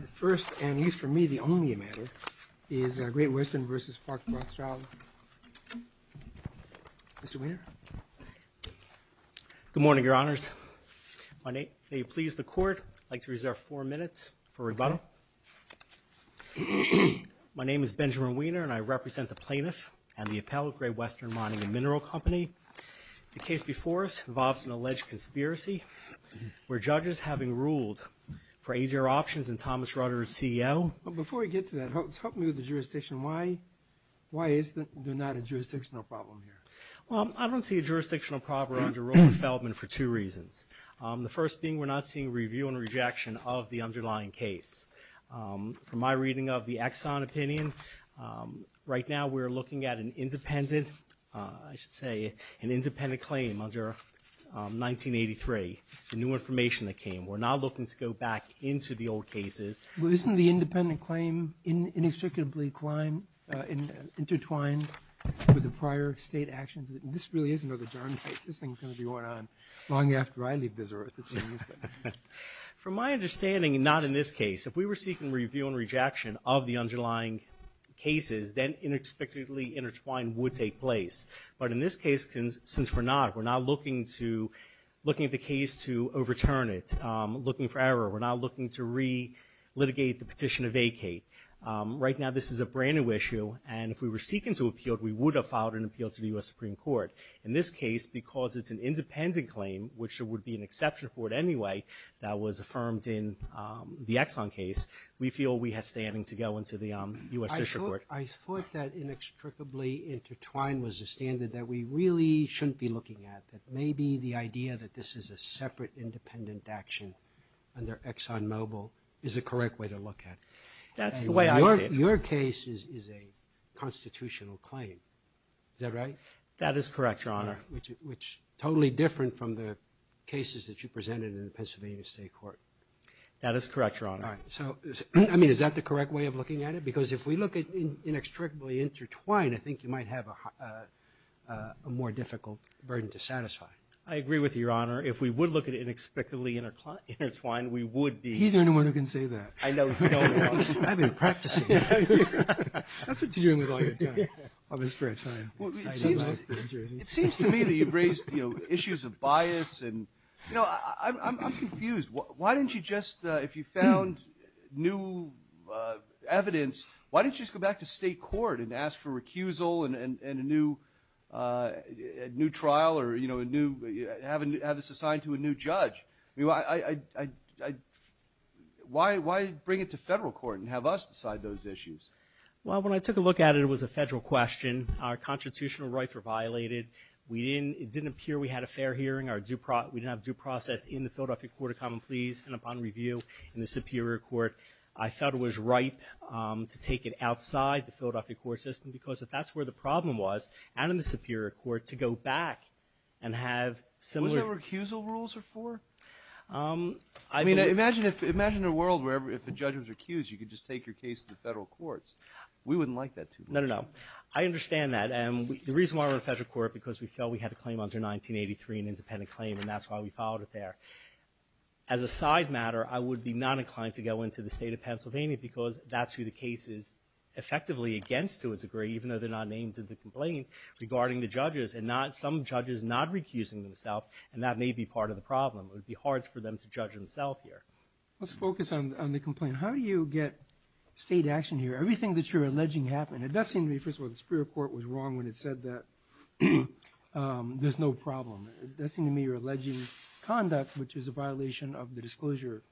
The first, and at least for me the only matter, is Great Western v. Fox Rothschild. Mr. Weiner? Good morning, Your Honors. May it please the Court, I'd like to reserve four minutes for rebuttal. My name is Benjamin Weiner, and I represent the plaintiff and the appellate of Great Western Mining&Mineral Company. The case before us involves an alleged conspiracy, where judges having ruled for AGR Options and Thomas Rutter as CEO... Before we get to that, help me with the jurisdiction. Why is there not a jurisdictional problem here? Well, I don't see a jurisdictional problem under Robert Feldman for two reasons. The first being we're not seeing review and rejection of the underlying case. From my reading of the Exxon opinion, right now we're looking at an independent, I should say, an independent claim under 1983, the new information that came. We're not looking to go back into the old cases. Well, isn't the independent claim inextricably intertwined with the prior state actions? This really isn't an adjourned case. This thing is going to be going on long after I leave this earth. From my understanding, not in this case. If we were seeking review and rejection of the underlying cases, then inextricably intertwined would take place. But in this case, since we're not, we're not looking to, looking at the case to overturn it, looking for error. We're not looking to re-litigate the petition to vacate. Right now this is a brand new issue, and if we were seeking to appeal it, we would have filed an appeal to the U.S. Supreme Court. In this case, because it's an independent claim, which there would be an exception for it anyway, that was affirmed in the Exxon case, we feel we have standing to go into the U.S. District Court. I thought that inextricably intertwined was a standard that we really shouldn't be looking at, that maybe the idea that this is a separate independent action under ExxonMobil is the correct way to look at it. That's the way I see it. Your case is a constitutional claim. Is that right? That is correct, Your Honor. Which is totally different from the cases that you presented in the Pennsylvania State Court. That is correct, Your Honor. All right. So, I mean, is that the correct way of looking at it? Because if we look at inextricably intertwined, I think you might have a more difficult burden to satisfy. I agree with you, Your Honor. If we would look at inextricably intertwined, we would be. He's the only one who can say that. I know. I've been practicing. That's what you're doing with all your time. It seems to me that you've raised issues of bias. I'm confused. Why didn't you just, if you found new evidence, why didn't you just go back to state court and ask for recusal and a new trial or have this assigned to a new judge? Why bring it to federal court and have us decide those issues? Well, when I took a look at it, it was a federal question. Our constitutional rights were violated. It didn't appear we had a fair hearing. We didn't have due process in the Philadelphia Court of Common Pleas. And upon review in the Superior Court, I felt it was right to take it outside the Philadelphia court system because if that's where the problem was, out in the Superior Court to go back and have similar. Was there recusal rules before? I mean, imagine a world where if a judge was accused, you could just take your case to the federal courts. We wouldn't like that too much. No, no, no. I understand that. The reason why we're in federal court is because we felt we had a claim under 1983, an independent claim, and that's why we filed it there. As a side matter, I would be not inclined to go into the state of Pennsylvania because that's who the case is effectively against to a degree, even though they're not named to the complaint, regarding the judges. And some judges not recusing themselves, and that may be part of the problem. It would be hard for them to judge themselves here. Let's focus on the complaint. How do you get state action here? Everything that you're alleging happened. It does seem to me, first of all, the Superior Court was wrong when it said that there's no problem. It does seem to me you're alleging conduct, which is a violation of the disclosure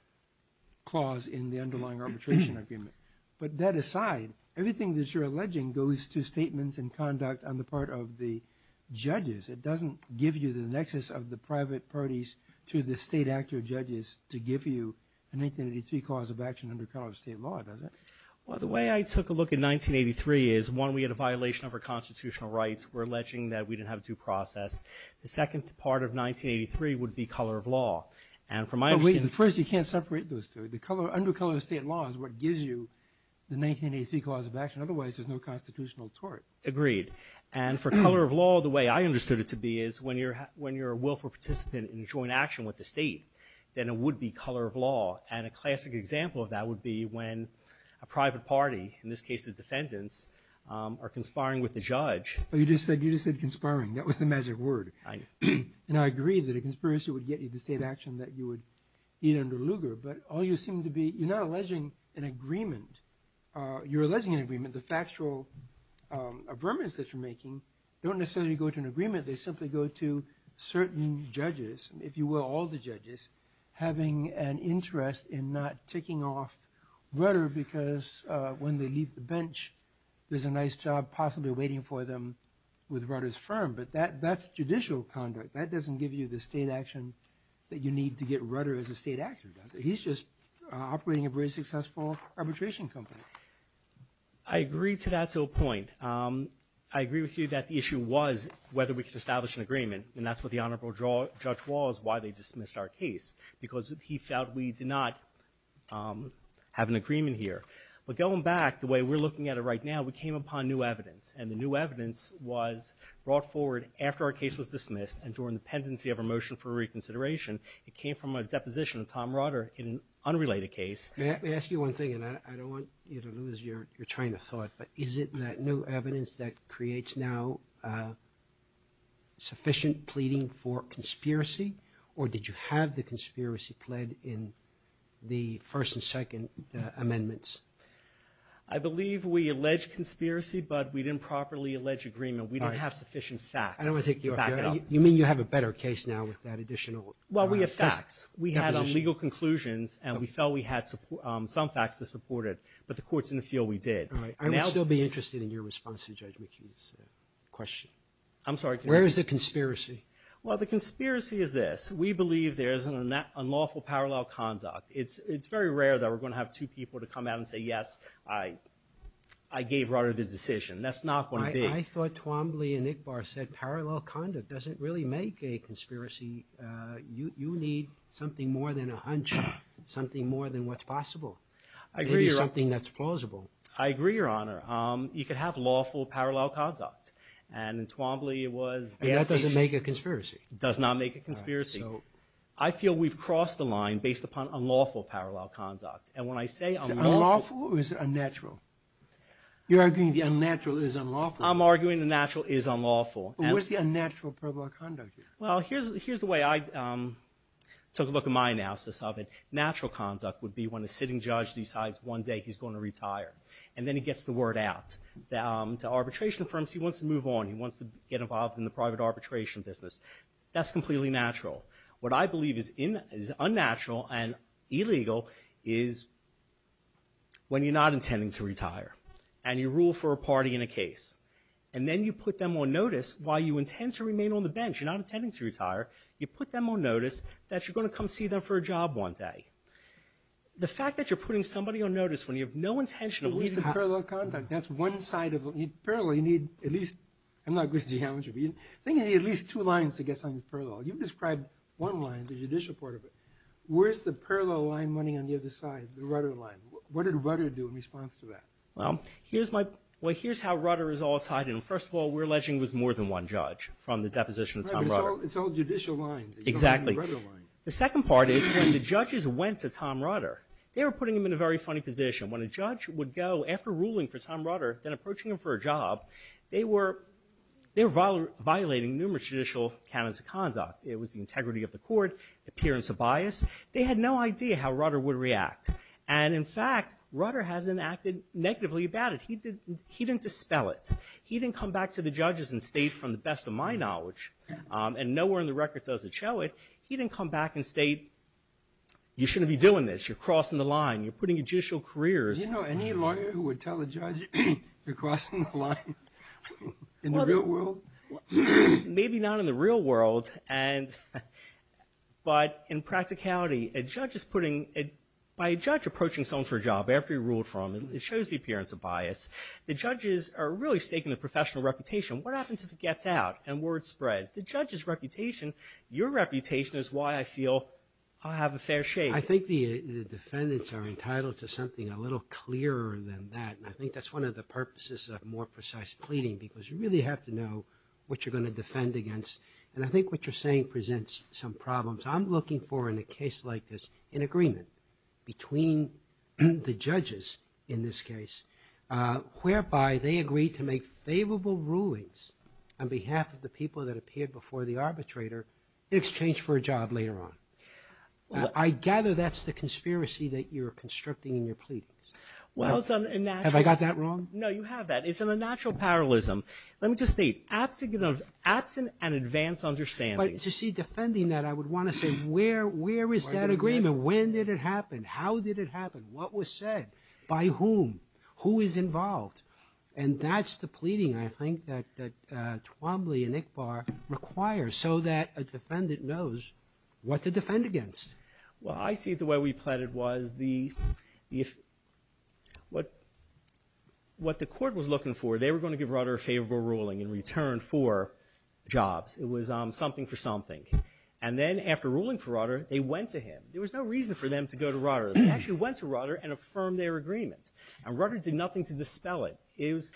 clause in the underlying arbitration agreement. But that aside, everything that you're alleging goes to statements and conduct on the part of the judges. It doesn't give you the nexus of the private parties to the state actor judges to give you a 1983 clause of action under color of state law, does it? Well, the way I took a look at 1983 is, one, we had a violation of our constitutional rights. We're alleging that we didn't have due process. The second part of 1983 would be color of law. And from my understanding— But wait, first you can't separate those two. Under color of state law is what gives you the 1983 clause of action. Otherwise, there's no constitutional tort. Agreed. And for color of law, the way I understood it to be is when you're a willful participant in a joint action with the state, then it would be color of law. And a classic example of that would be when a private party, in this case the defendants, are conspiring with the judge. But you just said conspiring. That was the magic word. I know. And I agree that a conspiracy would get you the state action that you would need under Lugar. But all you seem to be—you're not alleging an agreement. You're alleging an agreement. The factual affirmance that you're making don't necessarily go to an agreement. They simply go to certain judges, if you will, all the judges, having an interest in not ticking off Rutter because when they leave the bench, there's a nice job possibly waiting for them with Rutter's firm. But that's judicial conduct. That doesn't give you the state action that you need to get Rutter as a state actor, does it? He's just operating a very successful arbitration company. I agree to that to a point. I agree with you that the issue was whether we could establish an agreement. And that's what the honorable judge was, why they dismissed our case, because he felt we did not have an agreement here. But going back, the way we're looking at it right now, we came upon new evidence. And the new evidence was brought forward after our case was dismissed and during the pendency of our motion for reconsideration. It came from a deposition of Tom Rutter in an unrelated case. May I ask you one thing? And I don't want you to lose your train of thought, but is it that new evidence that creates now sufficient pleading for conspiracy? Or did you have the conspiracy pled in the first and second amendments? I believe we alleged conspiracy, but we didn't properly allege agreement. We didn't have sufficient facts to back it up. You mean you have a better case now with that additional? Well, we have facts. We have legal conclusions, and we felt we had some facts to support it. But the courts didn't feel we did. All right. I would still be interested in your response to Judge McKee's question. I'm sorry. Where is the conspiracy? Well, the conspiracy is this. We believe there is an unlawful parallel conduct. It's very rare that we're going to have two people to come out and say, yes, I gave Rutter the decision. That's not going to be – I thought Twombly and Ickbar said parallel conduct doesn't really make a conspiracy. You need something more than a hunch, something more than what's possible. I agree, Your Honor. Maybe something that's plausible. I agree, Your Honor. You could have lawful parallel conduct. And in Twombly it was – And that doesn't make a conspiracy. It does not make a conspiracy. All right. So – I feel we've crossed the line based upon unlawful parallel conduct. And when I say unlawful – Unlawful is unnatural. You're arguing the unnatural is unlawful. I'm arguing the natural is unlawful. What's the unnatural parallel conduct? Well, here's the way I took a look at my analysis of it. Natural conduct would be when a sitting judge decides one day he's going to retire and then he gets the word out. The arbitration firms, he wants to move on. He wants to get involved in the private arbitration business. That's completely natural. What I believe is unnatural and illegal is when you're not intending to retire and you rule for a party in a case. And then you put them on notice while you intend to remain on the bench. You're not intending to retire. You put them on notice that you're going to come see them for a job one day. The fact that you're putting somebody on notice when you have no intention of leaving – That's the parallel conduct. That's one side of – Parallel, you need at least – I'm not good at geometry, but I think you need at least two lines to get something parallel. You described one line, the judicial part of it. Where's the parallel line running on the other side, the Rudder line? What did Rudder do in response to that? Well, here's how Rudder is all tied in. First of all, we're alleging it was more than one judge from the deposition of Tom Rudder. It's all judicial lines. Exactly. The second part is when the judges went to Tom Rudder, they were putting him in a very funny position. When a judge would go after ruling for Tom Rudder, then approaching him for a job, they were violating numerous judicial canons of conduct. It was the integrity of the court, appearance of bias. They had no idea how Rudder would react. And, in fact, Rudder hasn't acted negatively about it. He didn't dispel it. He didn't come back to the judges and state, from the best of my knowledge, and nowhere in the record does it show it, he didn't come back and state, you shouldn't be doing this, you're crossing the line, you're putting your judicial careers – In the real world? Maybe not in the real world. But, in practicality, a judge is putting – by a judge approaching someone for a job after he ruled for him, it shows the appearance of bias. The judges are really staking the professional reputation. What happens if it gets out and word spreads? The judge's reputation, your reputation, is why I feel I have a fair share. I think the defendants are entitled to something a little clearer than that. And I think that's one of the purposes of more precise pleading, because you really have to know what you're going to defend against. And I think what you're saying presents some problems. I'm looking for, in a case like this, an agreement between the judges, in this case, whereby they agree to make favorable rulings on behalf of the people that appeared before the arbitrator in exchange for a job later on. I gather that's the conspiracy that you're constricting in your pleadings. Have I got that wrong? No, you have that. It's an unnatural parallelism. Let me just state, absent an advanced understanding. But, you see, defending that, I would want to say, where is that agreement? When did it happen? How did it happen? What was said? By whom? Who is involved? And that's the pleading, I think, that Twombly and Iqbal require, so that a defendant knows what to defend against. Well, I see the way we pleaded was the, if, what the court was looking for, they were going to give Rutter a favorable ruling in return for jobs. It was something for something. And then, after ruling for Rutter, they went to him. There was no reason for them to go to Rutter. They actually went to Rutter and affirmed their agreement. And Rutter did nothing to dispel it. It was,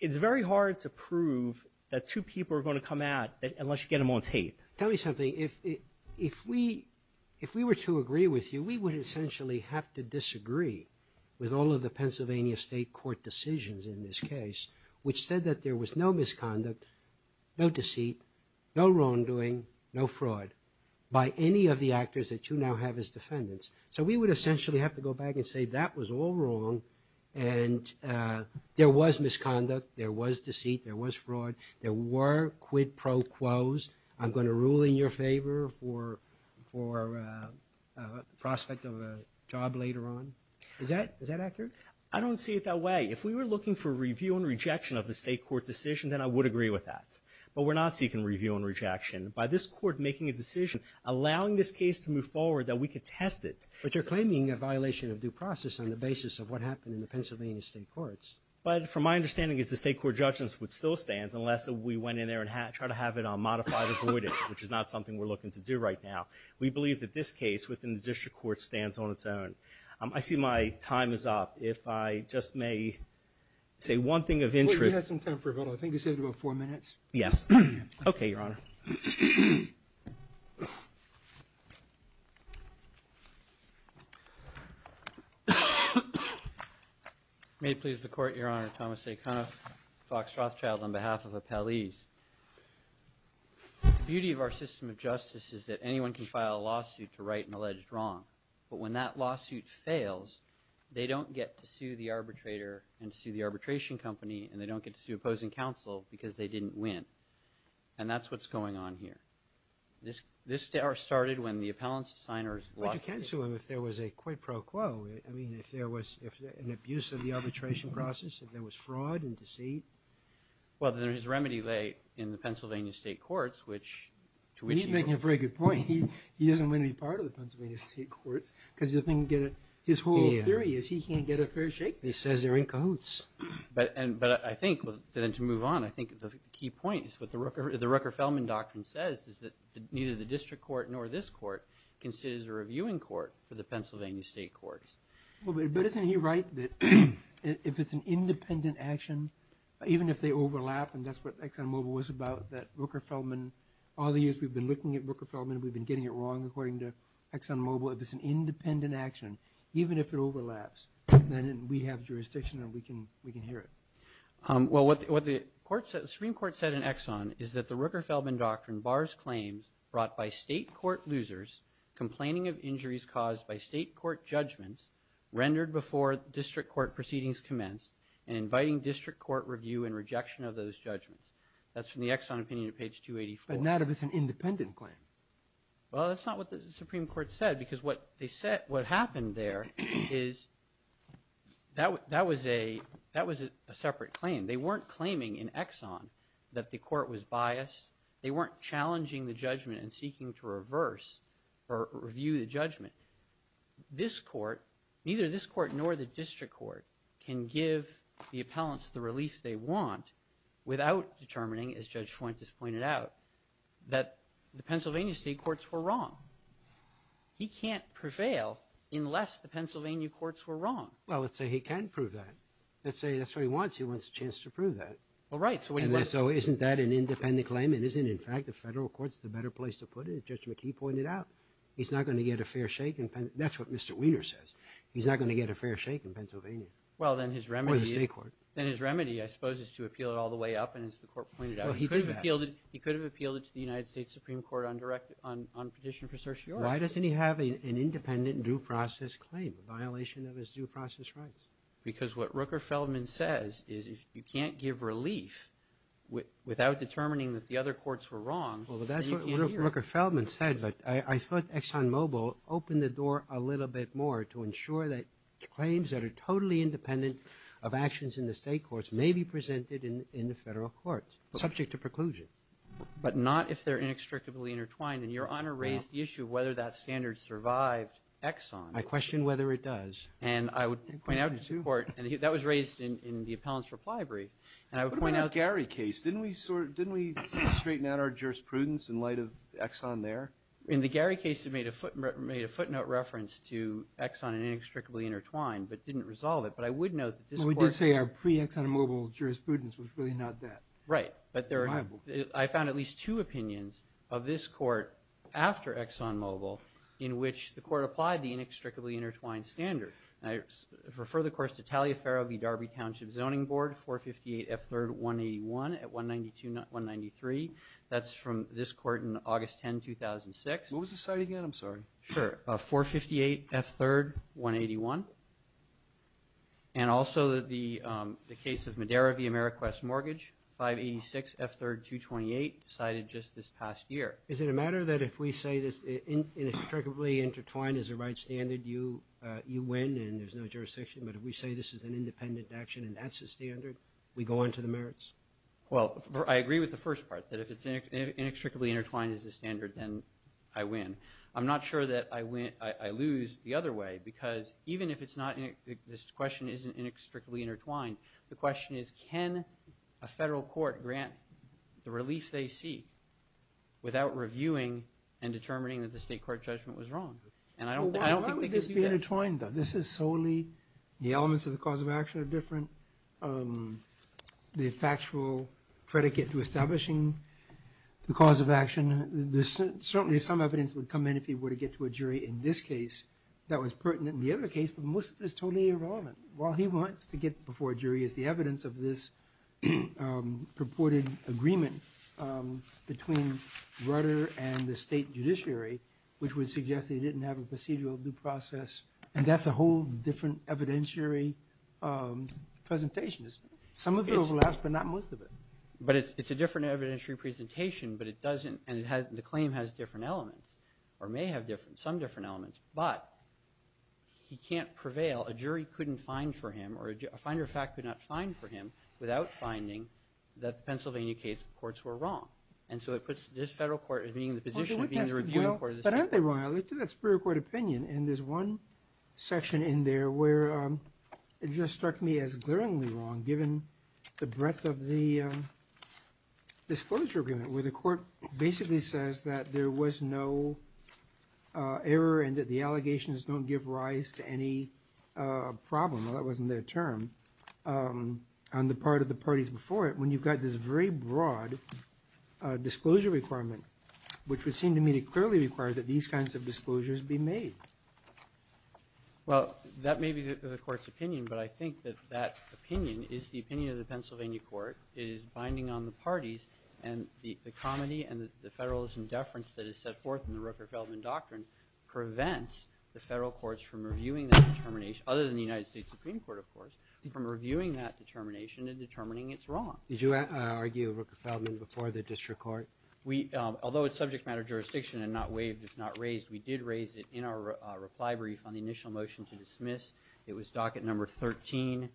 it's very hard to prove that two people are going to come at, unless you get them on tape. Tell me something. If we were to agree with you, we would essentially have to disagree with all of the Pennsylvania State Court decisions in this case, which said that there was no misconduct, no deceit, no wrongdoing, no fraud, by any of the actors that you now have as defendants. So we would essentially have to go back and say that was all wrong and there was misconduct, there was deceit, there was fraud, there were quid pro quos. I'm going to rule in your favor for prospect of a job later on. Is that accurate? I don't see it that way. If we were looking for review and rejection of the state court decision, then I would agree with that. But we're not seeking review and rejection. By this court making a decision, allowing this case to move forward, that we could test it. But you're claiming a violation of due process on the basis of what happened in the Pennsylvania State Courts. But from my understanding is the state court judgment would still stand unless we went in there and tried to have it modified or voided, which is not something we're looking to do right now. We believe that this case within the district court stands on its own. I see my time is up. If I just may say one thing of interest. We have some time for a vote. I think you said about four minutes. Okay, Your Honor. May it please the Court, Your Honor. Thomas A. Cunoff, Fox Rothschild, on behalf of Appellees. The beauty of our system of justice is that anyone can file a lawsuit to right an alleged wrong. But when that lawsuit fails, they don't get to sue the arbitrator and sue the arbitration company, and they don't get to sue opposing counsel because they didn't win. And that's what's going on here. This started when the appellants' signers lost the case. But you can sue them if there was a quid pro quo. I mean, if there was an abuse of the arbitration process, if there was fraud and deceit. Well, then his remedy lay in the Pennsylvania State Courts, which to which he goes. You're making a very good point. He doesn't win any part of the Pennsylvania State Courts because his whole theory is he can't get a fair shake. He says they're in cahoots. But I think to move on, I think the key point is what the Rucker-Feldman doctrine says is that neither the district court nor this court can sit as a reviewing court for the Pennsylvania State Courts. But isn't he right that if it's an independent action, even if they overlap, and that's what ExxonMobil was about, that Rucker-Feldman, all these years we've been looking at Rucker-Feldman and we've been getting it wrong according to ExxonMobil. If it's an independent action, even if it overlaps, then we have jurisdiction and we can hear it. Well, what the Supreme Court said in Exxon is that the Rucker-Feldman doctrine bars claims brought by state court losers complaining of injuries caused by state court judgments rendered before district court proceedings commenced and inviting district court review and rejection of those judgments. That's from the Exxon opinion at page 284. But not if it's an independent claim. Well, that's not what the Supreme Court said because what they said, what happened there is that was a separate claim. They weren't claiming in Exxon that the court was biased. They weren't challenging the judgment and seeking to reverse or review the judgment. This court, neither this court nor the district court, can give the appellants the relief they want without determining, as Judge Fuentes pointed out, that the Pennsylvania state courts were wrong. He can't prevail unless the Pennsylvania courts were wrong. Well, let's say he can prove that. Let's say that's what he wants. He wants a chance to prove that. Well, right. So isn't that an independent claim? And isn't, in fact, the federal courts the better place to put it, as Judge McKee pointed out? He's not going to get a fair shake in Pennsylvania. That's what Mr. Weiner says. He's not going to get a fair shake in Pennsylvania or the state court. Well, then his remedy, I suppose, is to appeal it all the way up. And as the court pointed out, he could have appealed it to the United States Supreme Court on petition for certiorari. Why doesn't he have an independent due process claim, a violation of his due process rights? Because what Rooker-Feldman says is if you can't give relief without determining that the other courts were wrong, then you can't hear it. Well, that's what Rooker-Feldman said. But I thought ExxonMobil opened the door a little bit more to ensure that claims that are totally independent of actions in the state courts may be presented in the federal courts, subject to preclusion. But not if they're inextricably intertwined. And Your Honor raised the issue of whether that standard survived Exxon. I question whether it does. And I would point out to the court, and that was raised in the appellant's reply brief, and I would point out the Gary case. Didn't we straighten out our jurisprudence in light of Exxon there? In the Gary case, it made a footnote reference to Exxon and inextricably intertwined, but didn't resolve it. But I would note that this court – Well, we did say our pre-ExxonMobil jurisprudence was really not that. Right. But I found at least two opinions of this court after ExxonMobil in which the court applied the inextricably intertwined standard. And I refer, of course, to Talia Farrow v. Darby Township Zoning Board, 458F3-181 at 192-193. That's from this court in August 10, 2006. What was the site again? I'm sorry. Sure. 458F3-181. And also the case of Madera v. Ameriquest Mortgage, 586F3-228, decided just this past year. Is it a matter that if we say this inextricably intertwined is the right standard, you win and there's no jurisdiction? But if we say this is an independent action and that's the standard, we go on to the merits? Well, I agree with the first part, that if it's inextricably intertwined as the standard, then I win. I'm not sure that I lose the other way because even if this question isn't inextricably and determining that the state court judgment was wrong. And I don't think they could do that. Why would this be intertwined, though? This is solely the elements of the cause of action are different. The factual predicate to establishing the cause of action, there's certainly some evidence that would come in if he were to get to a jury in this case that was pertinent in the other case, but most of it is totally irrelevant. Well, he wants to get before a jury as the evidence of this purported agreement between Rutter and the state judiciary, which would suggest they didn't have a procedural due process, and that's a whole different evidentiary presentation. Some of it overlaps, but not most of it. But it's a different evidentiary presentation, but it doesn't, and the claim has different elements or may have some different elements, but he can't prevail. A jury couldn't find for him, or a finder of fact could not find for him without finding that the Pennsylvania case courts were wrong. And so it puts this federal court in the position of being the reviewing court of the state. But aren't they wrong? I looked at that Superior Court opinion, and there's one section in there where it just struck me as glaringly wrong given the breadth of the disclosure agreement where the court basically says that there was no error and that the allegations don't give rise to any problem. Well, that wasn't their term. On the part of the parties before it, when you've got this very broad disclosure requirement, which would seem to me to clearly require that these kinds of disclosures be made. Well, that may be the court's opinion, but I think that that opinion is the opinion of the Pennsylvania court. It is binding on the parties, and the comedy and the federalism deference that is set forth in the Rooker-Feldman doctrine prevents the federal courts from reviewing that determination, other than the United States Supreme Court, of course, from reviewing that determination and determining it's wrong. Did you argue Rooker-Feldman before the district court? Although it's subject matter jurisdiction and not waived, it's not raised, we did raise it in our reply brief on the initial motion to dismiss. It was docket number 13,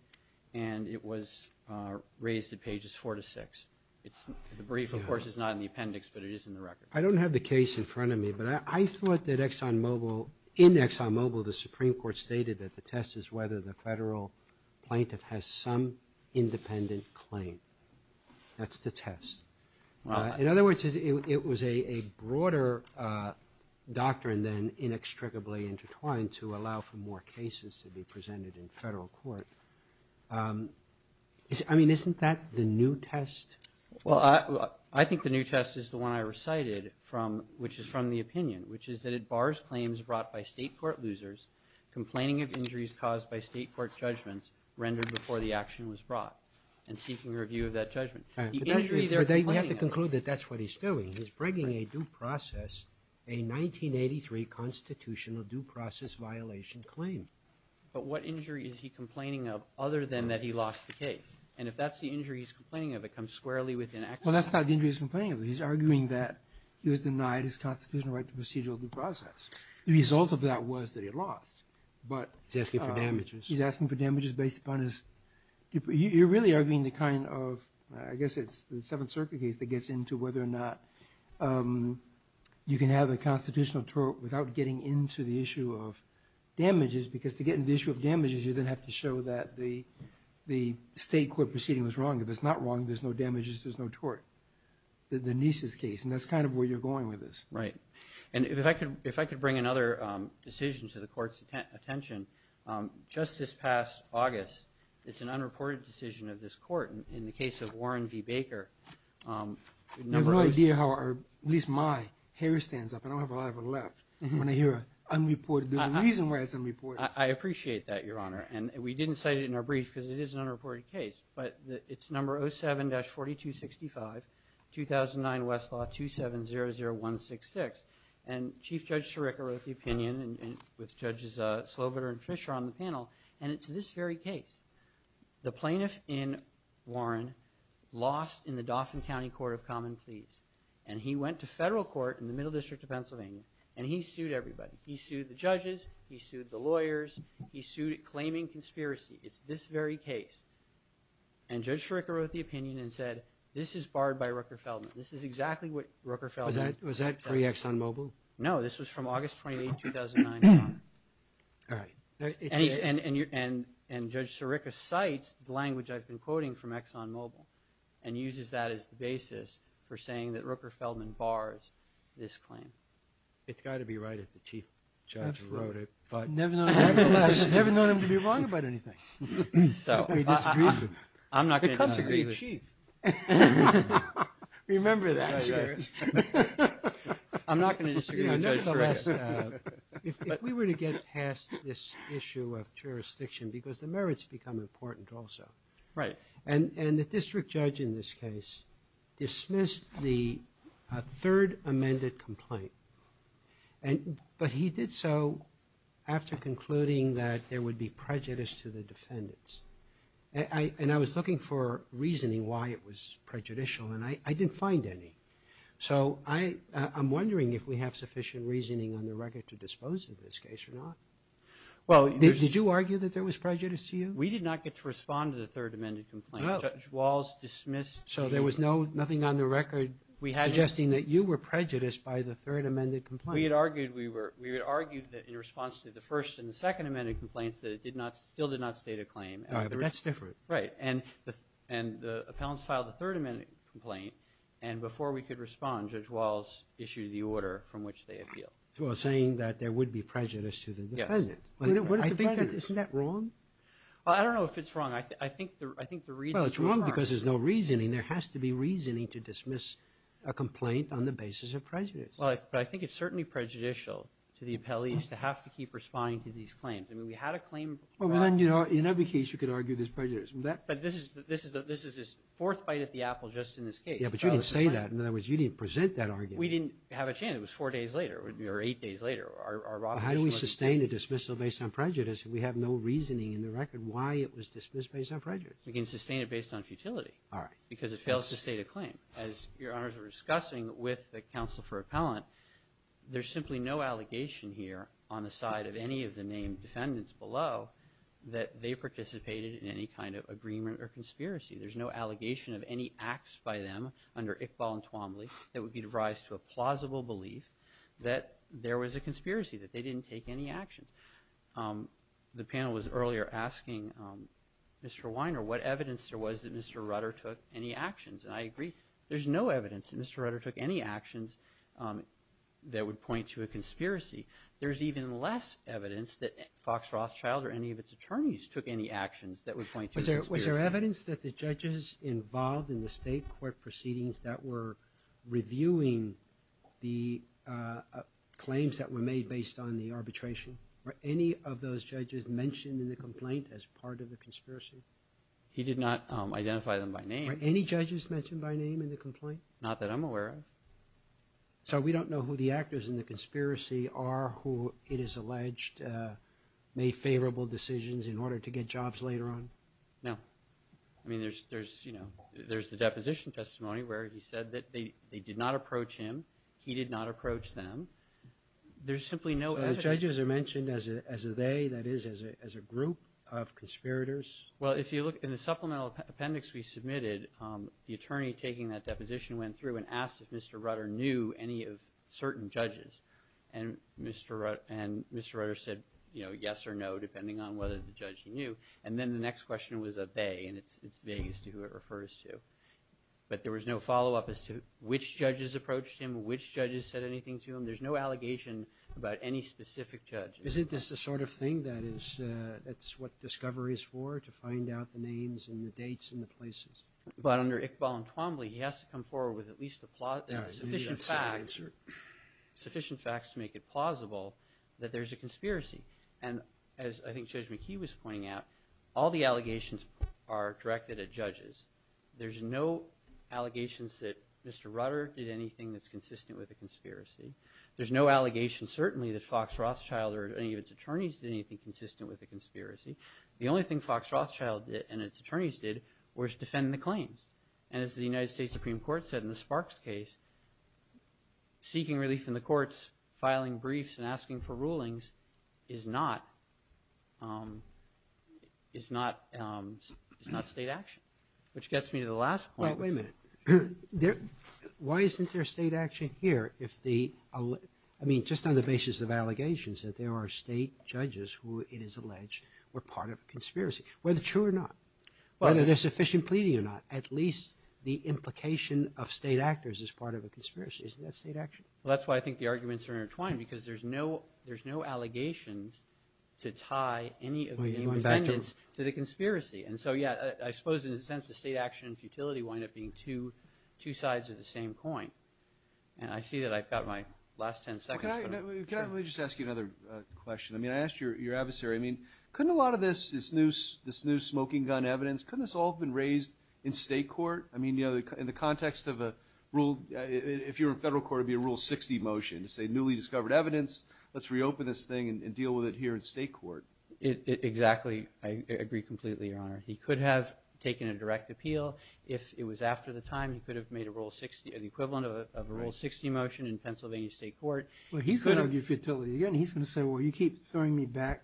and it was raised at pages 4 to 6. The brief, of course, is not in the appendix, but it is in the record. I don't have the case in front of me, but I thought that ExxonMobil, in ExxonMobil, the Supreme Court stated that the test is whether the federal plaintiff has some independent claim. That's the test. In other words, it was a broader doctrine than inextricably intertwined to allow for more cases to be presented in federal court. I mean, isn't that the new test? Well, I think the new test is the one I recited, which is from the opinion, which is that it bars claims brought by state court losers complaining of injuries caused by state court judgments rendered before the action was brought and seeking review of that judgment. You have to conclude that that's what he's doing. He's bringing a due process, a 1983 constitutional due process violation claim. But what injury is he complaining of other than that he lost the case? And if that's the injury he's complaining of, it comes squarely within ExxonMobil. Well, that's not the injury he's complaining of. He's arguing that he was denied his constitutional right to procedural due process. The result of that was that he lost. He's asking for damages. He's asking for damages based upon his – you're really arguing the kind of – I guess it's the Seventh Circuit case that gets into whether or not you can have a constitutional tort without getting into the issue of damages, because to get into the issue of damages, you then have to show that the state court proceeding was wrong. If it's not wrong, there's no damages, there's no tort. The Nieces case, and that's kind of where you're going with this. Right. And if I could bring another decision to the Court's attention, just this past August, it's an unreported decision of this Court. In the case of Warren v. Baker, the number of – I have no idea how at least my hair stands up. I don't have a lot of it left. When I hear unreported, there's a reason why it's unreported. I appreciate that, Your Honor. And we didn't cite it in our brief because it is an unreported case, but it's number 07-4265, 2009 Westlaw 2700166. And Chief Judge Sciricca wrote the opinion with Judges Sloviter and Fischer on the panel, and it's this very case. The plaintiff in Warren lost in the Dauphin County Court of Common Pleas, and he went to federal court in the Middle District of Pennsylvania, and he sued everybody. He sued the judges. He sued the lawyers. He sued claiming conspiracy. It's this very case. And Judge Sciricca wrote the opinion and said, this is barred by Rooker-Feldman. This is exactly what Rooker-Feldman said. Was that pre-ExxonMobil? No, this was from August 28, 2009. All right. And Judge Sciricca cites the language I've been quoting from ExxonMobil and uses that as the basis for saying that Rooker-Feldman bars this claim. It's got to be right if the Chief Judge wrote it. Nevertheless, I've never known him to be wrong about anything. He disagrees with me. I'm not going to disagree with Chief. Remember that. I'm not going to disagree with Judge Sciricca. If we were to get past this issue of jurisdiction, because the merits become important also. Right. And the district judge in this case dismissed the third amended complaint. But he did so after concluding that there would be prejudice to the defendants. And I was looking for reasoning why it was prejudicial, and I didn't find any. So I'm wondering if we have sufficient reasoning on the record to dispose of this case or not. Did you argue that there was prejudice to you? We did not get to respond to the third amended complaint. Judge Walls dismissed it. So there was nothing on the record suggesting that you were prejudiced by the third amended complaint. We had argued that in response to the first and the second amended complaints that it still did not state a claim. All right. But that's different. Right. And the appellants filed the third amended complaint. And before we could respond, Judge Walls issued the order from which they appealed. So saying that there would be prejudice to the defendant. Yes. Isn't that wrong? I don't know if it's wrong. I think the reasoning is wrong. Well, it's wrong because there's no reasoning. There has to be reasoning to dismiss a complaint on the basis of prejudice. Well, I think it's certainly prejudicial to the appellees to have to keep responding to these claims. I mean, we had a claim. Well, then, you know, in every case you could argue there's prejudice. But this is his fourth bite at the apple just in this case. Yeah, but you didn't say that. In other words, you didn't present that argument. We didn't have a chance. It was four days later or eight days later. How do we sustain a dismissal based on prejudice? We have no reasoning in the record why it was dismissed based on prejudice. We can sustain it based on futility. All right. Because it fails to state a claim. As Your Honors are discussing with the counsel for appellant, there's simply no allegation here on the side of any of the named defendants below that they participated in any kind of agreement or conspiracy. There's no allegation of any acts by them under Iqbal and Twombly that would give rise to a plausible belief that there was a conspiracy, that they didn't take any actions. The panel was earlier asking Mr. Weiner what evidence there was that Mr. Rutter took any actions. And I agree. There's no evidence that Mr. Rutter took any actions that would point to a conspiracy. There's even less evidence that Fox Rothschild or any of its attorneys took any actions that would point to a conspiracy. Is there evidence that the judges involved in the state court proceedings that were reviewing the claims that were made based on the arbitration, were any of those judges mentioned in the complaint as part of the conspiracy? He did not identify them by name. Were any judges mentioned by name in the complaint? Not that I'm aware of. So we don't know who the actors in the conspiracy are, who it is alleged made favorable decisions in order to get jobs later on? No. I mean, there's the deposition testimony where he said that they did not approach him. He did not approach them. There's simply no evidence. So the judges are mentioned as a they, that is, as a group of conspirators? Well, if you look in the supplemental appendix we submitted, the attorney taking that deposition went through and asked if Mr. Rutter knew any of certain judges. And Mr. Rutter said yes or no, depending on whether the judge knew. And then the next question was a they, and it's they as to who it refers to. But there was no follow-up as to which judges approached him, which judges said anything to him. There's no allegation about any specific judge. Isn't this the sort of thing that is – that's what discovery is for, to find out the names and the dates and the places? But under Iqbal and Twombly, he has to come forward with at least a – sufficient facts. Sufficient facts to make it plausible that there's a conspiracy. And as I think Judge McKee was pointing out, all the allegations are directed at judges. There's no allegations that Mr. Rutter did anything that's consistent with a conspiracy. There's no allegation, certainly, that Fox Rothschild or any of its attorneys did anything consistent with a conspiracy. The only thing Fox Rothschild and its attorneys did was defend the claims. And as the United States Supreme Court said in the Sparks case, seeking relief in the courts, filing briefs, and asking for rulings is not – is not – is not state action. Which gets me to the last point. Well, wait a minute. Why isn't there state action here if the – I mean, just on the basis of allegations, that there are state judges who, it is alleged, were part of a conspiracy, whether true or not? Whether there's sufficient pleading or not. At least the implication of state actors is part of a conspiracy. Isn't that state action? Well, that's why I think the arguments are intertwined, because there's no – there's no allegations to tie any of the defendants to the conspiracy. And so, yeah, I suppose, in a sense, the state action and futility wind up being two sides of the same coin. And I see that I've got my last 10 seconds, but – Can I – let me just ask you another question. I mean, I asked your adversary, I mean, couldn't a lot of this – this new smoking gun evidence, couldn't this all have been raised in state court? I mean, you know, in the context of a rule – if you were in federal court, it would be a Rule 60 motion to say, newly discovered evidence, let's reopen this thing and deal with it here in state court. Exactly. I agree completely, Your Honor. He could have taken a direct appeal if it was after the time. He could have made a Rule 60 – the equivalent of a Rule 60 motion in Pennsylvania state court. Well, he's going to argue futility again. He's going to say, well, you keep throwing me back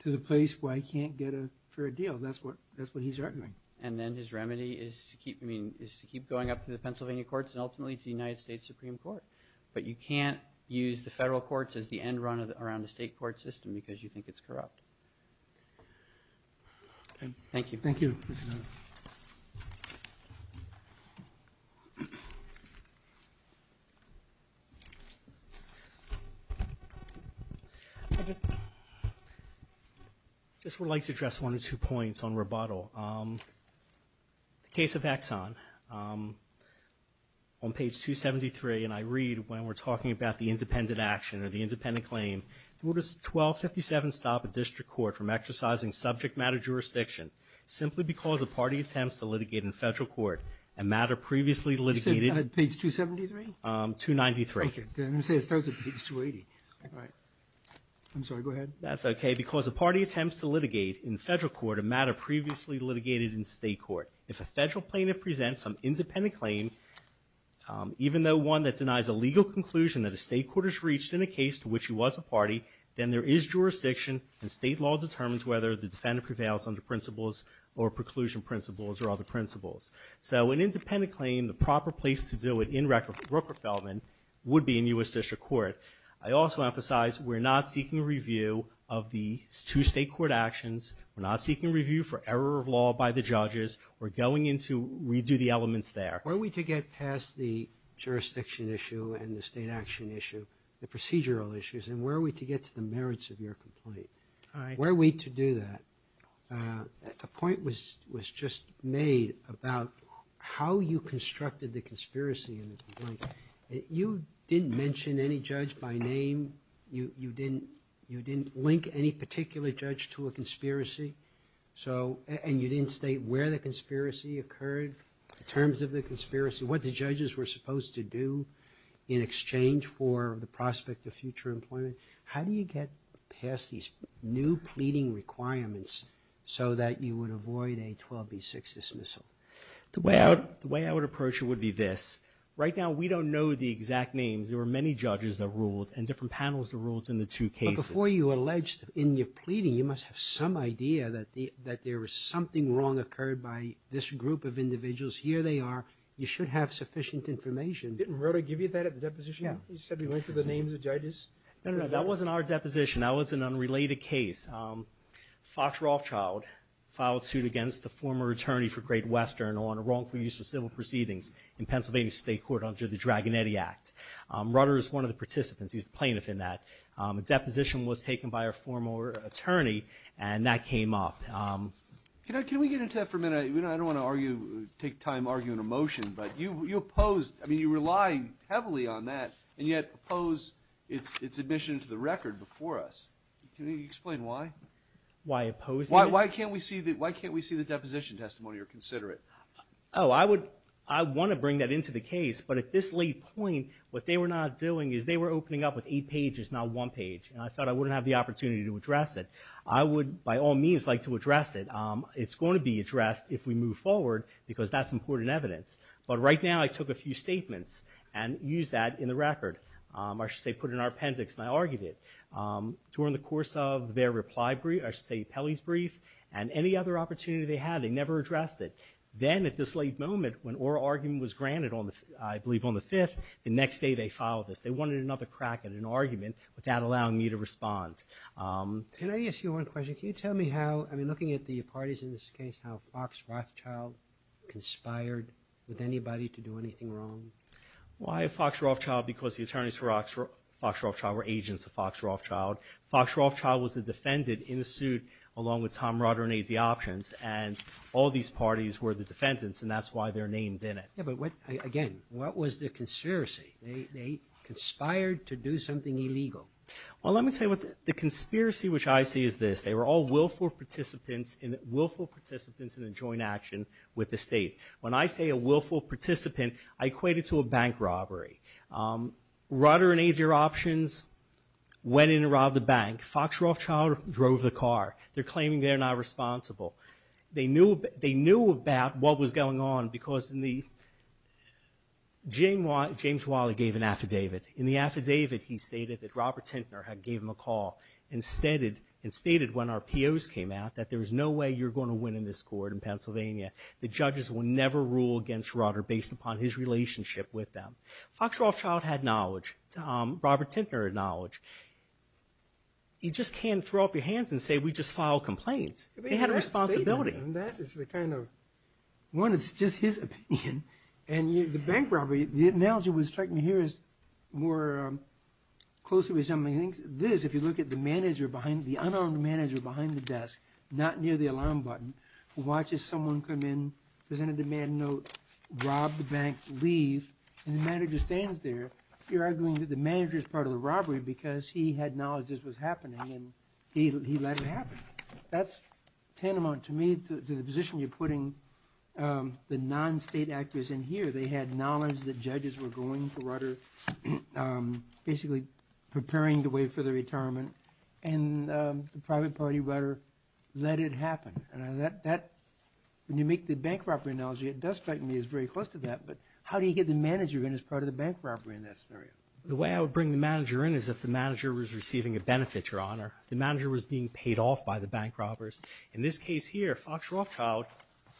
to the place where I can't get a fair deal. That's what – that's what he's arguing. And then his remedy is to keep – I mean, is to keep going up to the Pennsylvania courts and ultimately to the United States Supreme Court. But you can't use the federal courts as the end run around a state court system because you think it's corrupt. Thank you. Thank you. Thank you, Your Honor. I just would like to address one or two points on rebuttal. The case of Exxon on page 273, and I read when we're talking about the independent action or the independent claim. What does 1257 stop a district court from exercising subject matter jurisdiction simply because a party attempts to litigate in federal court a matter previously litigated? Page 273? 293. Okay. I'm going to say it starts at page 280. All right. I'm sorry. Go ahead. That's okay. Because a party attempts to litigate in federal court a matter previously litigated in state court. If a federal plaintiff presents some independent claim, even though one that denies a legal conclusion that a state court has reached in a case to which he was a party, then there is jurisdiction and state law determines whether the defendant prevails under principles or preclusion principles or other principles. So an independent claim, the proper place to do it in record for Brooker-Feldman would be in U.S. District Court. I also emphasize we're not seeking a review of the two state court actions. We're not seeking a review for error of law by the judges. We're going in to redo the elements there. All right. Where are we to get past the jurisdiction issue and the state action issue, the procedural issues, and where are we to get to the merits of your complaint? All right. Where are we to do that? A point was just made about how you constructed the conspiracy in the complaint. You didn't mention any judge by name. You didn't link any particular judge to a conspiracy. And you didn't state where the conspiracy occurred, the terms of the conspiracy, what the judges were supposed to do in exchange for the prospect of future employment. How do you get past these new pleading requirements so that you would avoid a 12B6 dismissal? The way I would approach it would be this. Right now, we don't know the exact names. There were many judges that ruled and different panels that ruled in the two cases. But before you alleged in your pleading, you must have some idea that there was something wrong occurred by this group of individuals. Here they are. You should have sufficient information. Didn't Rutter give you that at the deposition? Yeah. He said he went through the names of judges. No, no, no. That wasn't our deposition. That was an unrelated case. Fox Rothschild filed suit against the former attorney for Great Western on a wrongful use of civil proceedings in Pennsylvania State Court under the Dragonetti Act. Rutter is one of the participants. He's the plaintiff in that. The deposition was taken by a former attorney, and that came up. Can we get into that for a minute? I don't want to take time arguing a motion, but you opposed. I mean, you rely heavily on that, and yet opposed its admission to the record before us. Can you explain why? Why opposed it? Why can't we see the deposition testimony or consider it? Oh, I would want to bring that into the case. But at this late point, what they were not doing is they were opening up with eight pages, not one page, and I thought I wouldn't have the opportunity to address it. I would, by all means, like to address it. It's going to be addressed if we move forward because that's important evidence. But right now I took a few statements and used that in the record. I should say put it in our appendix, and I argued it. During the course of their reply brief, I should say Pelley's brief, and any other opportunity they had, they never addressed it. Then at this late moment, when oral argument was granted, I believe on the 5th, the next day they filed this. They wanted another crack at an argument without allowing me to respond. Can I ask you one question? Can you tell me how, I mean, looking at the parties in this case, how Fox Rothschild conspired with anybody to do anything wrong? Why Fox Rothschild? Because the attorneys for Fox Rothschild were agents of Fox Rothschild. Fox Rothschild was a defendant in the suit along with Tom Rotter and AD Options, and all these parties were the defendants, and that's why they're named in it. Yeah, but again, what was the conspiracy? They conspired to do something illegal. Well, let me tell you what the conspiracy which I see is this. They were all willful participants in a joint action with the state. When I say a willful participant, I equate it to a bank robbery. Rotter and AD Options went in and robbed the bank. Fox Rothschild drove the car. They're claiming they're not responsible. They knew about what was going on because James Wiley gave an affidavit. In the affidavit, he stated that Robert Tintner had gave him a call and stated when our POs came out that there was no way you're going to win in this court in Pennsylvania. The judges will never rule against Rotter based upon his relationship with them. Fox Rothschild had knowledge. Robert Tintner had knowledge. You just can't throw up your hands and say we just filed complaints. They had a responsibility. That is the kind of—one, it's just his opinion. And the bank robbery, the analogy I was trying to hear is more closely resembling this. If you look at the manager behind—the unarmed manager behind the desk, not near the alarm button, watches someone come in, present a demand note, rob the bank, leave, and the manager stands there, you're arguing that the manager is part of the robbery because he had knowledge this was happening and he let it happen. That's tantamount to me to the position you're putting the non-state actors in here. They had knowledge that judges were going for Rotter, basically preparing the way for the retirement, and the private party, Rotter, let it happen. When you make the bank robbery analogy, it does strike me as very close to that, but how do you get the manager in as part of the bank robbery in that scenario? The way I would bring the manager in is if the manager was receiving a benefit, Your Honor, if the manager was being paid off by the bank robbers. In this case here, Fox Rothschild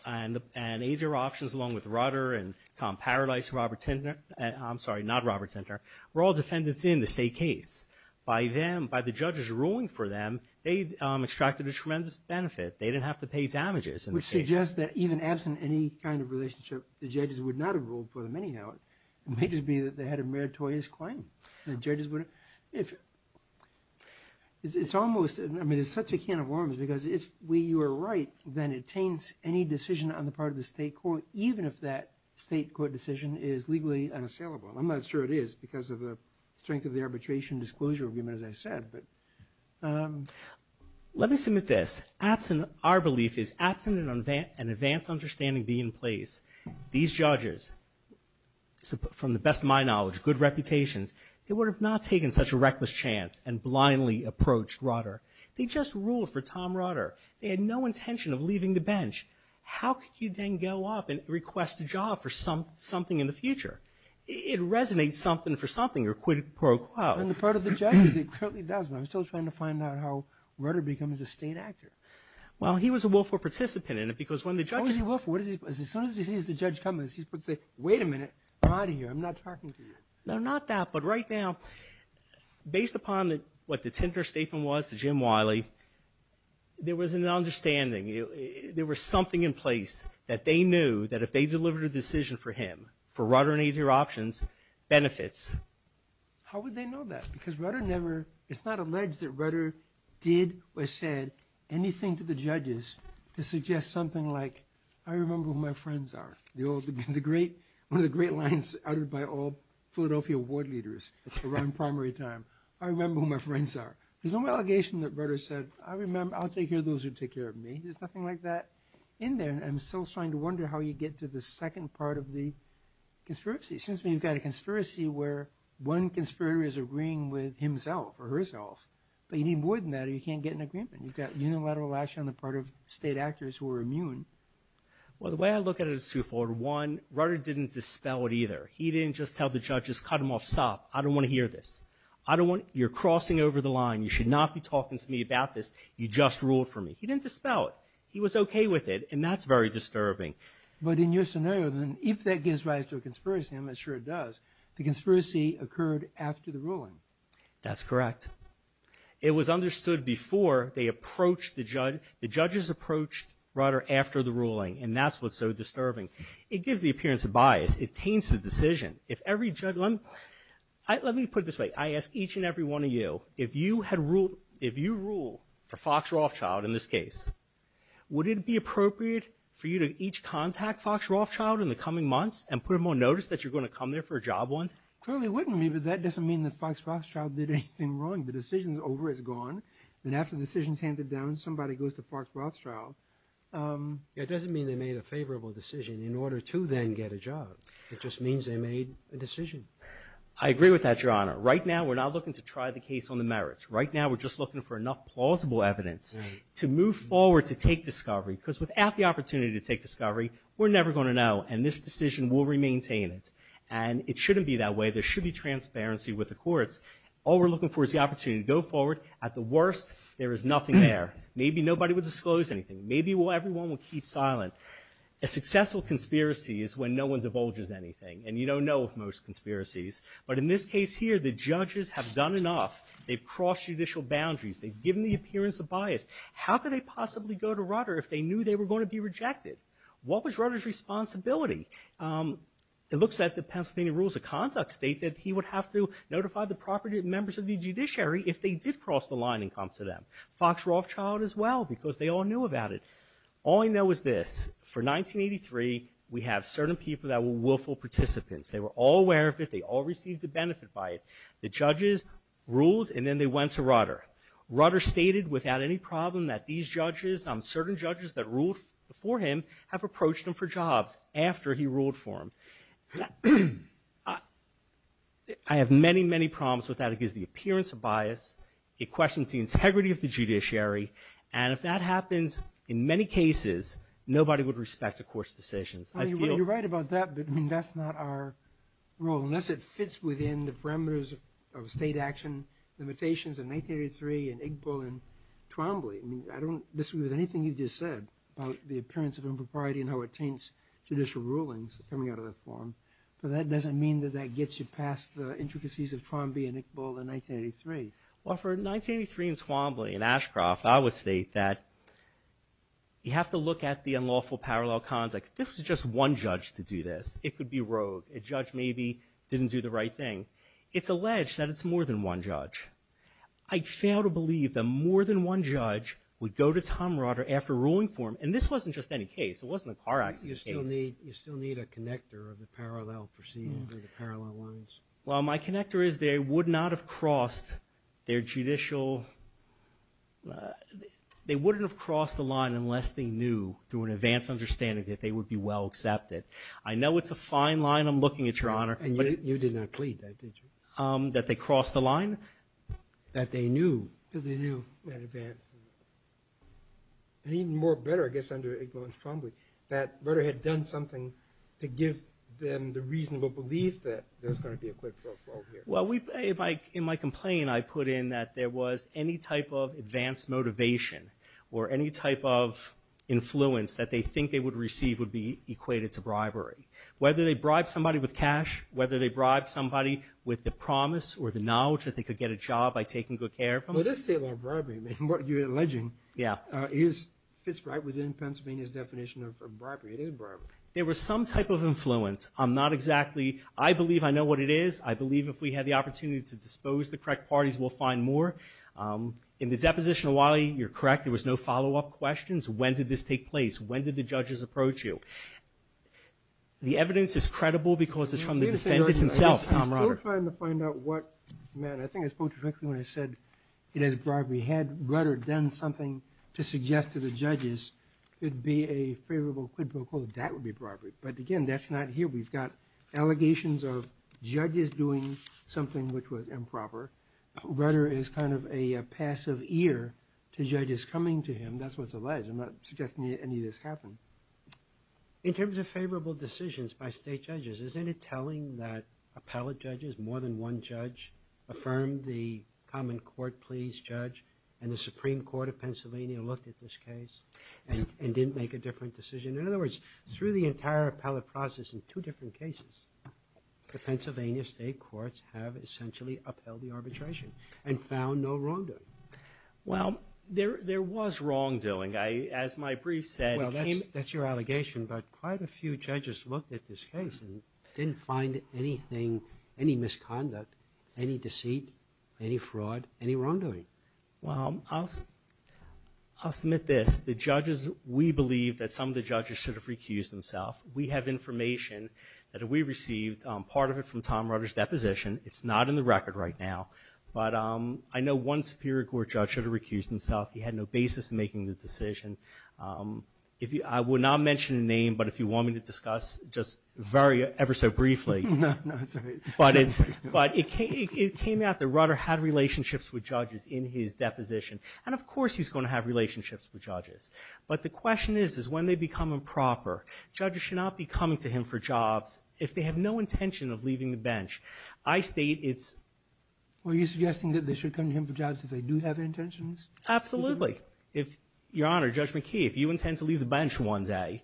and AZR Options, along with Rotter and Tom Paradise, I'm sorry, not Robert Tinter, were all defendants in the state case. By the judges ruling for them, they extracted a tremendous benefit. They didn't have to pay damages. Which suggests that even absent any kind of relationship, the judges would not have ruled for them anyhow. It may just be that they had a meritorious claim. The judges wouldn't. It's almost, I mean, it's such a can of worms because if we were right, then it taints any decision on the part of the state court, even if that state court decision is legally unassailable. I'm not sure it is because of the strength of the arbitration disclosure agreement, as I said. Let me submit this. Our belief is absent an advanced understanding be in place. These judges, from the best of my knowledge, good reputations, they would have not taken such a reckless chance and blindly approached Rotter. They just ruled for Tom Rotter. They had no intention of leaving the bench. How could you then go up and request a job for something in the future? It resonates something for something, your quid pro quo. On the part of the judges, it certainly does, but I'm still trying to find out how Rotter becomes a state actor. Well, he was a willful participant in it because when the judges- as soon as he sees the judge come in, he's going to say, wait a minute, I'm out of here, I'm not talking to you. No, not that, but right now, based upon what the Tinter statement was to Jim Wiley, there was an understanding. There was something in place that they knew that if they delivered a decision for him, for Rotter and easier options, benefits. How would they know that? Because Rotter never-it's not alleged that Rotter did or said anything to the judges to suggest something like, I remember who my friends are. One of the great lines uttered by all Philadelphia ward leaders around primary time, I remember who my friends are. There's no allegation that Rotter said, I'll take care of those who take care of me. There's nothing like that in there. I'm still starting to wonder how you get to the second part of the conspiracy. It seems to me you've got a conspiracy where one conspirator is agreeing with himself or herself, but you need more than that or you can't get an agreement. You've got unilateral action on the part of state actors who are immune. Well, the way I look at it is twofold. One, Rotter didn't dispel it either. He didn't just tell the judges, cut him off, stop. I don't want to hear this. You're crossing over the line. You should not be talking to me about this. You just ruled for me. He didn't dispel it. He was okay with it, and that's very disturbing. But in your scenario, if that gives rise to a conspiracy, I'm not sure it does, the conspiracy occurred after the ruling. That's correct. It was understood before the judges approached Rotter after the ruling, and that's what's so disturbing. It gives the appearance of bias. It taints the decision. Let me put it this way. I ask each and every one of you, if you rule for Fox Rothschild in this case, would it be appropriate for you to each contact Fox Rothschild in the coming months and put them on notice that you're going to come there for a job once? Clearly it wouldn't be, but that doesn't mean that Fox Rothschild did anything wrong. The decision's over. It's gone. And after the decision's handed down, somebody goes to Fox Rothschild. It doesn't mean they made a favorable decision in order to then get a job. It just means they made a decision. I agree with that, Your Honor. Right now, we're not looking to try the case on the merits. Right now, we're just looking for enough plausible evidence to move forward to take discovery, because without the opportunity to take discovery, we're never going to know, and this decision will remaintain it. And it shouldn't be that way. There should be transparency with the courts. All we're looking for is the opportunity to go forward. At the worst, there is nothing there. Maybe nobody will disclose anything. Maybe everyone will keep silent. A successful conspiracy is when no one divulges anything, and you don't know with most conspiracies. But in this case here, the judges have done enough. They've crossed judicial boundaries. They've given the appearance of bias. How could they possibly go to Rutter if they knew they were going to be rejected? What was Rutter's responsibility? It looks like the Pennsylvania Rules of Conduct state that he would have to notify the property and members of the judiciary if they did cross the line and come to them. Fox Rothschild as well, because they all knew about it. All I know is this. For 1983, we have certain people that were willful participants. They were all aware of it. They all received a benefit by it. The judges ruled, and then they went to Rutter. Rutter stated without any problem that these judges, and certain judges that ruled for him, have approached him for jobs after he ruled for him. I have many, many problems with that. It gives the appearance of bias. It questions the integrity of the judiciary. And if that happens in many cases, nobody would respect a court's decisions. I feel— You're right about that, but that's not our role, unless it fits within the parameters of state action limitations in 1983 and Igbo and Twombly. I don't disagree with anything you just said about the appearance of impropriety and how it taints judicial rulings coming out of that forum. But that doesn't mean that that gets you past the intricacies of Twombly and Igbo in 1983. Well, for 1983 and Twombly and Ashcroft, I would state that you have to look at the unlawful parallel context. There was just one judge to do this. It could be rogue. A judge maybe didn't do the right thing. It's alleged that it's more than one judge. I fail to believe that more than one judge would go to Tom Rotter after ruling for him. And this wasn't just any case. It wasn't a car accident case. You still need a connector of the parallel proceedings and the parallel lines. Well, my connector is they would not have crossed their judicial— they wouldn't have crossed the line unless they knew, through an advanced understanding, that they would be well accepted. I know it's a fine line. I'm looking at your Honor. And you did not plead that, did you? That they crossed the line? That they knew. That they knew in advance. And even more better, I guess, under Igbo and Twombly, that Rotter had done something to give them the reasonable belief that there's going to be a quid pro quo here. Well, in my complaint, I put in that there was any type of advanced motivation or any type of influence that they think they would receive would be equated to bribery. Whether they bribed somebody with cash, whether they bribed somebody with the promise or the knowledge that they could get a job by taking good care of them. Well, this statement of bribery, what you're alleging, fits right within Pennsylvania's definition of bribery. It is bribery. There was some type of influence. I'm not exactly—I believe I know what it is. I believe if we had the opportunity to dispose the correct parties, we'll find more. In the deposition of Wiley, you're correct, there was no follow-up questions. When did this take place? When did the judges approach you? The evidence is credible because it's from the defendant himself, Tom Rutter. I'm still trying to find out what—man, I think I spoke too quickly when I said it is bribery. Had Rutter done something to suggest to the judges it would be a favorable quid pro quo, that would be bribery. But, again, that's not here. We've got allegations of judges doing something which was improper. Rutter is kind of a passive ear to judges coming to him. That's what's alleged. I'm not suggesting any of this happened. In terms of favorable decisions by state judges, isn't it telling that appellate judges, more than one judge, affirmed the common court pleas judge, and the Supreme Court of Pennsylvania looked at this case and didn't make a different decision? In other words, through the entire appellate process in two different cases, the Pennsylvania state courts have essentially upheld the arbitration and found no wrongdoing. Well, there was wrongdoing. As my brief said— Well, that's your allegation. But quite a few judges looked at this case and didn't find anything, any misconduct, any deceit, any fraud, any wrongdoing. Well, I'll submit this. The judges, we believe that some of the judges should have recused themselves. We have information that we received, part of it from Tom Rutter's deposition. It's not in the record right now. But I know one Superior Court judge should have recused himself. He had no basis in making the decision. I will not mention a name, but if you want me to discuss just ever so briefly. No, no, that's all right. But it came out that Rutter had relationships with judges in his deposition. And, of course, he's going to have relationships with judges. But the question is, is when they become improper, judges should not be coming to him for jobs if they have no intention of leaving the bench. I state it's— Were you suggesting that they should come to him for jobs if they do have intentions? Absolutely. Your Honor, Judge McKee, if you intend to leave the bench one day,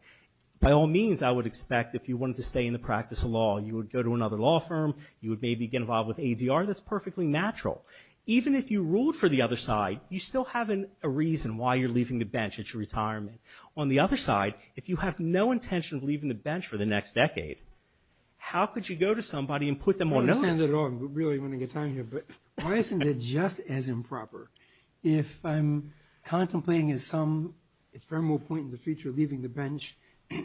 by all means I would expect if you wanted to stay in the practice of law, you would go to another law firm, you would maybe get involved with ADR. That's perfectly natural. Even if you ruled for the other side, you still have a reason why you're leaving the bench at your retirement. On the other side, if you have no intention of leaving the bench for the next decade, how could you go to somebody and put them on notice? I don't understand that at all. I'm really running out of time here. But why isn't it just as improper? If I'm contemplating at some ephemeral point in the future leaving the bench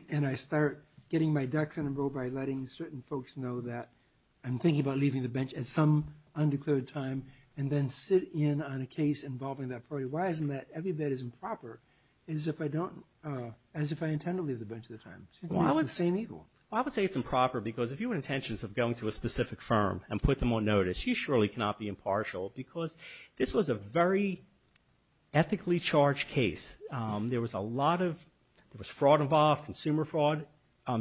and I start getting my ducks in a row by letting certain folks know that I'm thinking about leaving the bench at some undeclared time and then sit in on a case involving that party, why isn't that every bit as improper as if I don't— as if I intend to leave the bench at the time? It's the same evil. I would say it's improper because if you have intentions of going to a specific firm and put them on notice, you surely cannot be impartial because this was a very ethically charged case. There was a lot of—there was fraud involved, consumer fraud.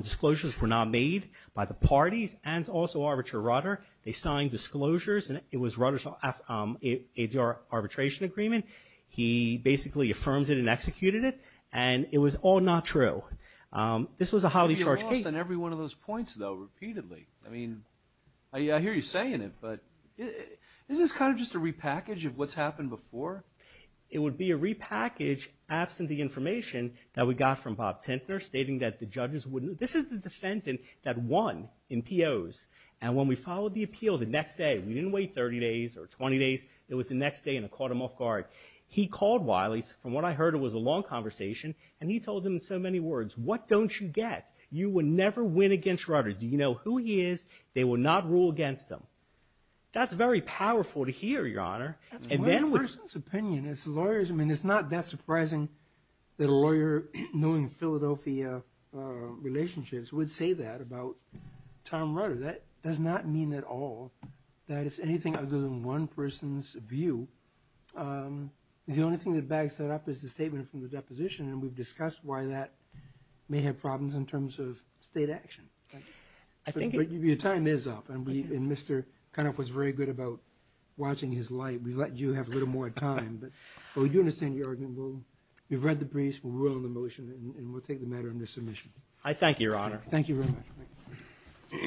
Disclosures were not made by the parties and also Arbiter Rudder. They signed disclosures and it was Rudder's ADR arbitration agreement. He basically affirmed it and executed it, and it was all not true. This was a highly charged case. But you lost on every one of those points, though, repeatedly. I mean, I hear you saying it, but isn't this kind of just a repackage of what's happened before? It would be a repackage absent the information that we got from Bob Tintner stating that the judges wouldn't—this is the defense that won in POs, and when we followed the appeal the next day, we didn't wait 30 days or 20 days. It was the next day and it caught him off guard. He called Wiley's. From what I heard, it was a long conversation, and he told them in so many words, what don't you get? You will never win against Rudder. Do you know who he is? They will not rule against him. That's very powerful to hear, Your Honor. That's one person's opinion. It's the lawyer's. I mean, it's not that surprising that a lawyer knowing Philadelphia relationships would say that about Tom Rudder. That does not mean at all that it's anything other than one person's view. The only thing that bags that up is the statement from the deposition, and we've discussed why that may have problems in terms of state action. But your time is up, and Mr. Cunoff was very good about watching his light. We let you have a little more time, but we do understand your argument. We've read the briefs. We'll rule on the motion, and we'll take the matter under submission. I thank you, Your Honor. Thank you very much.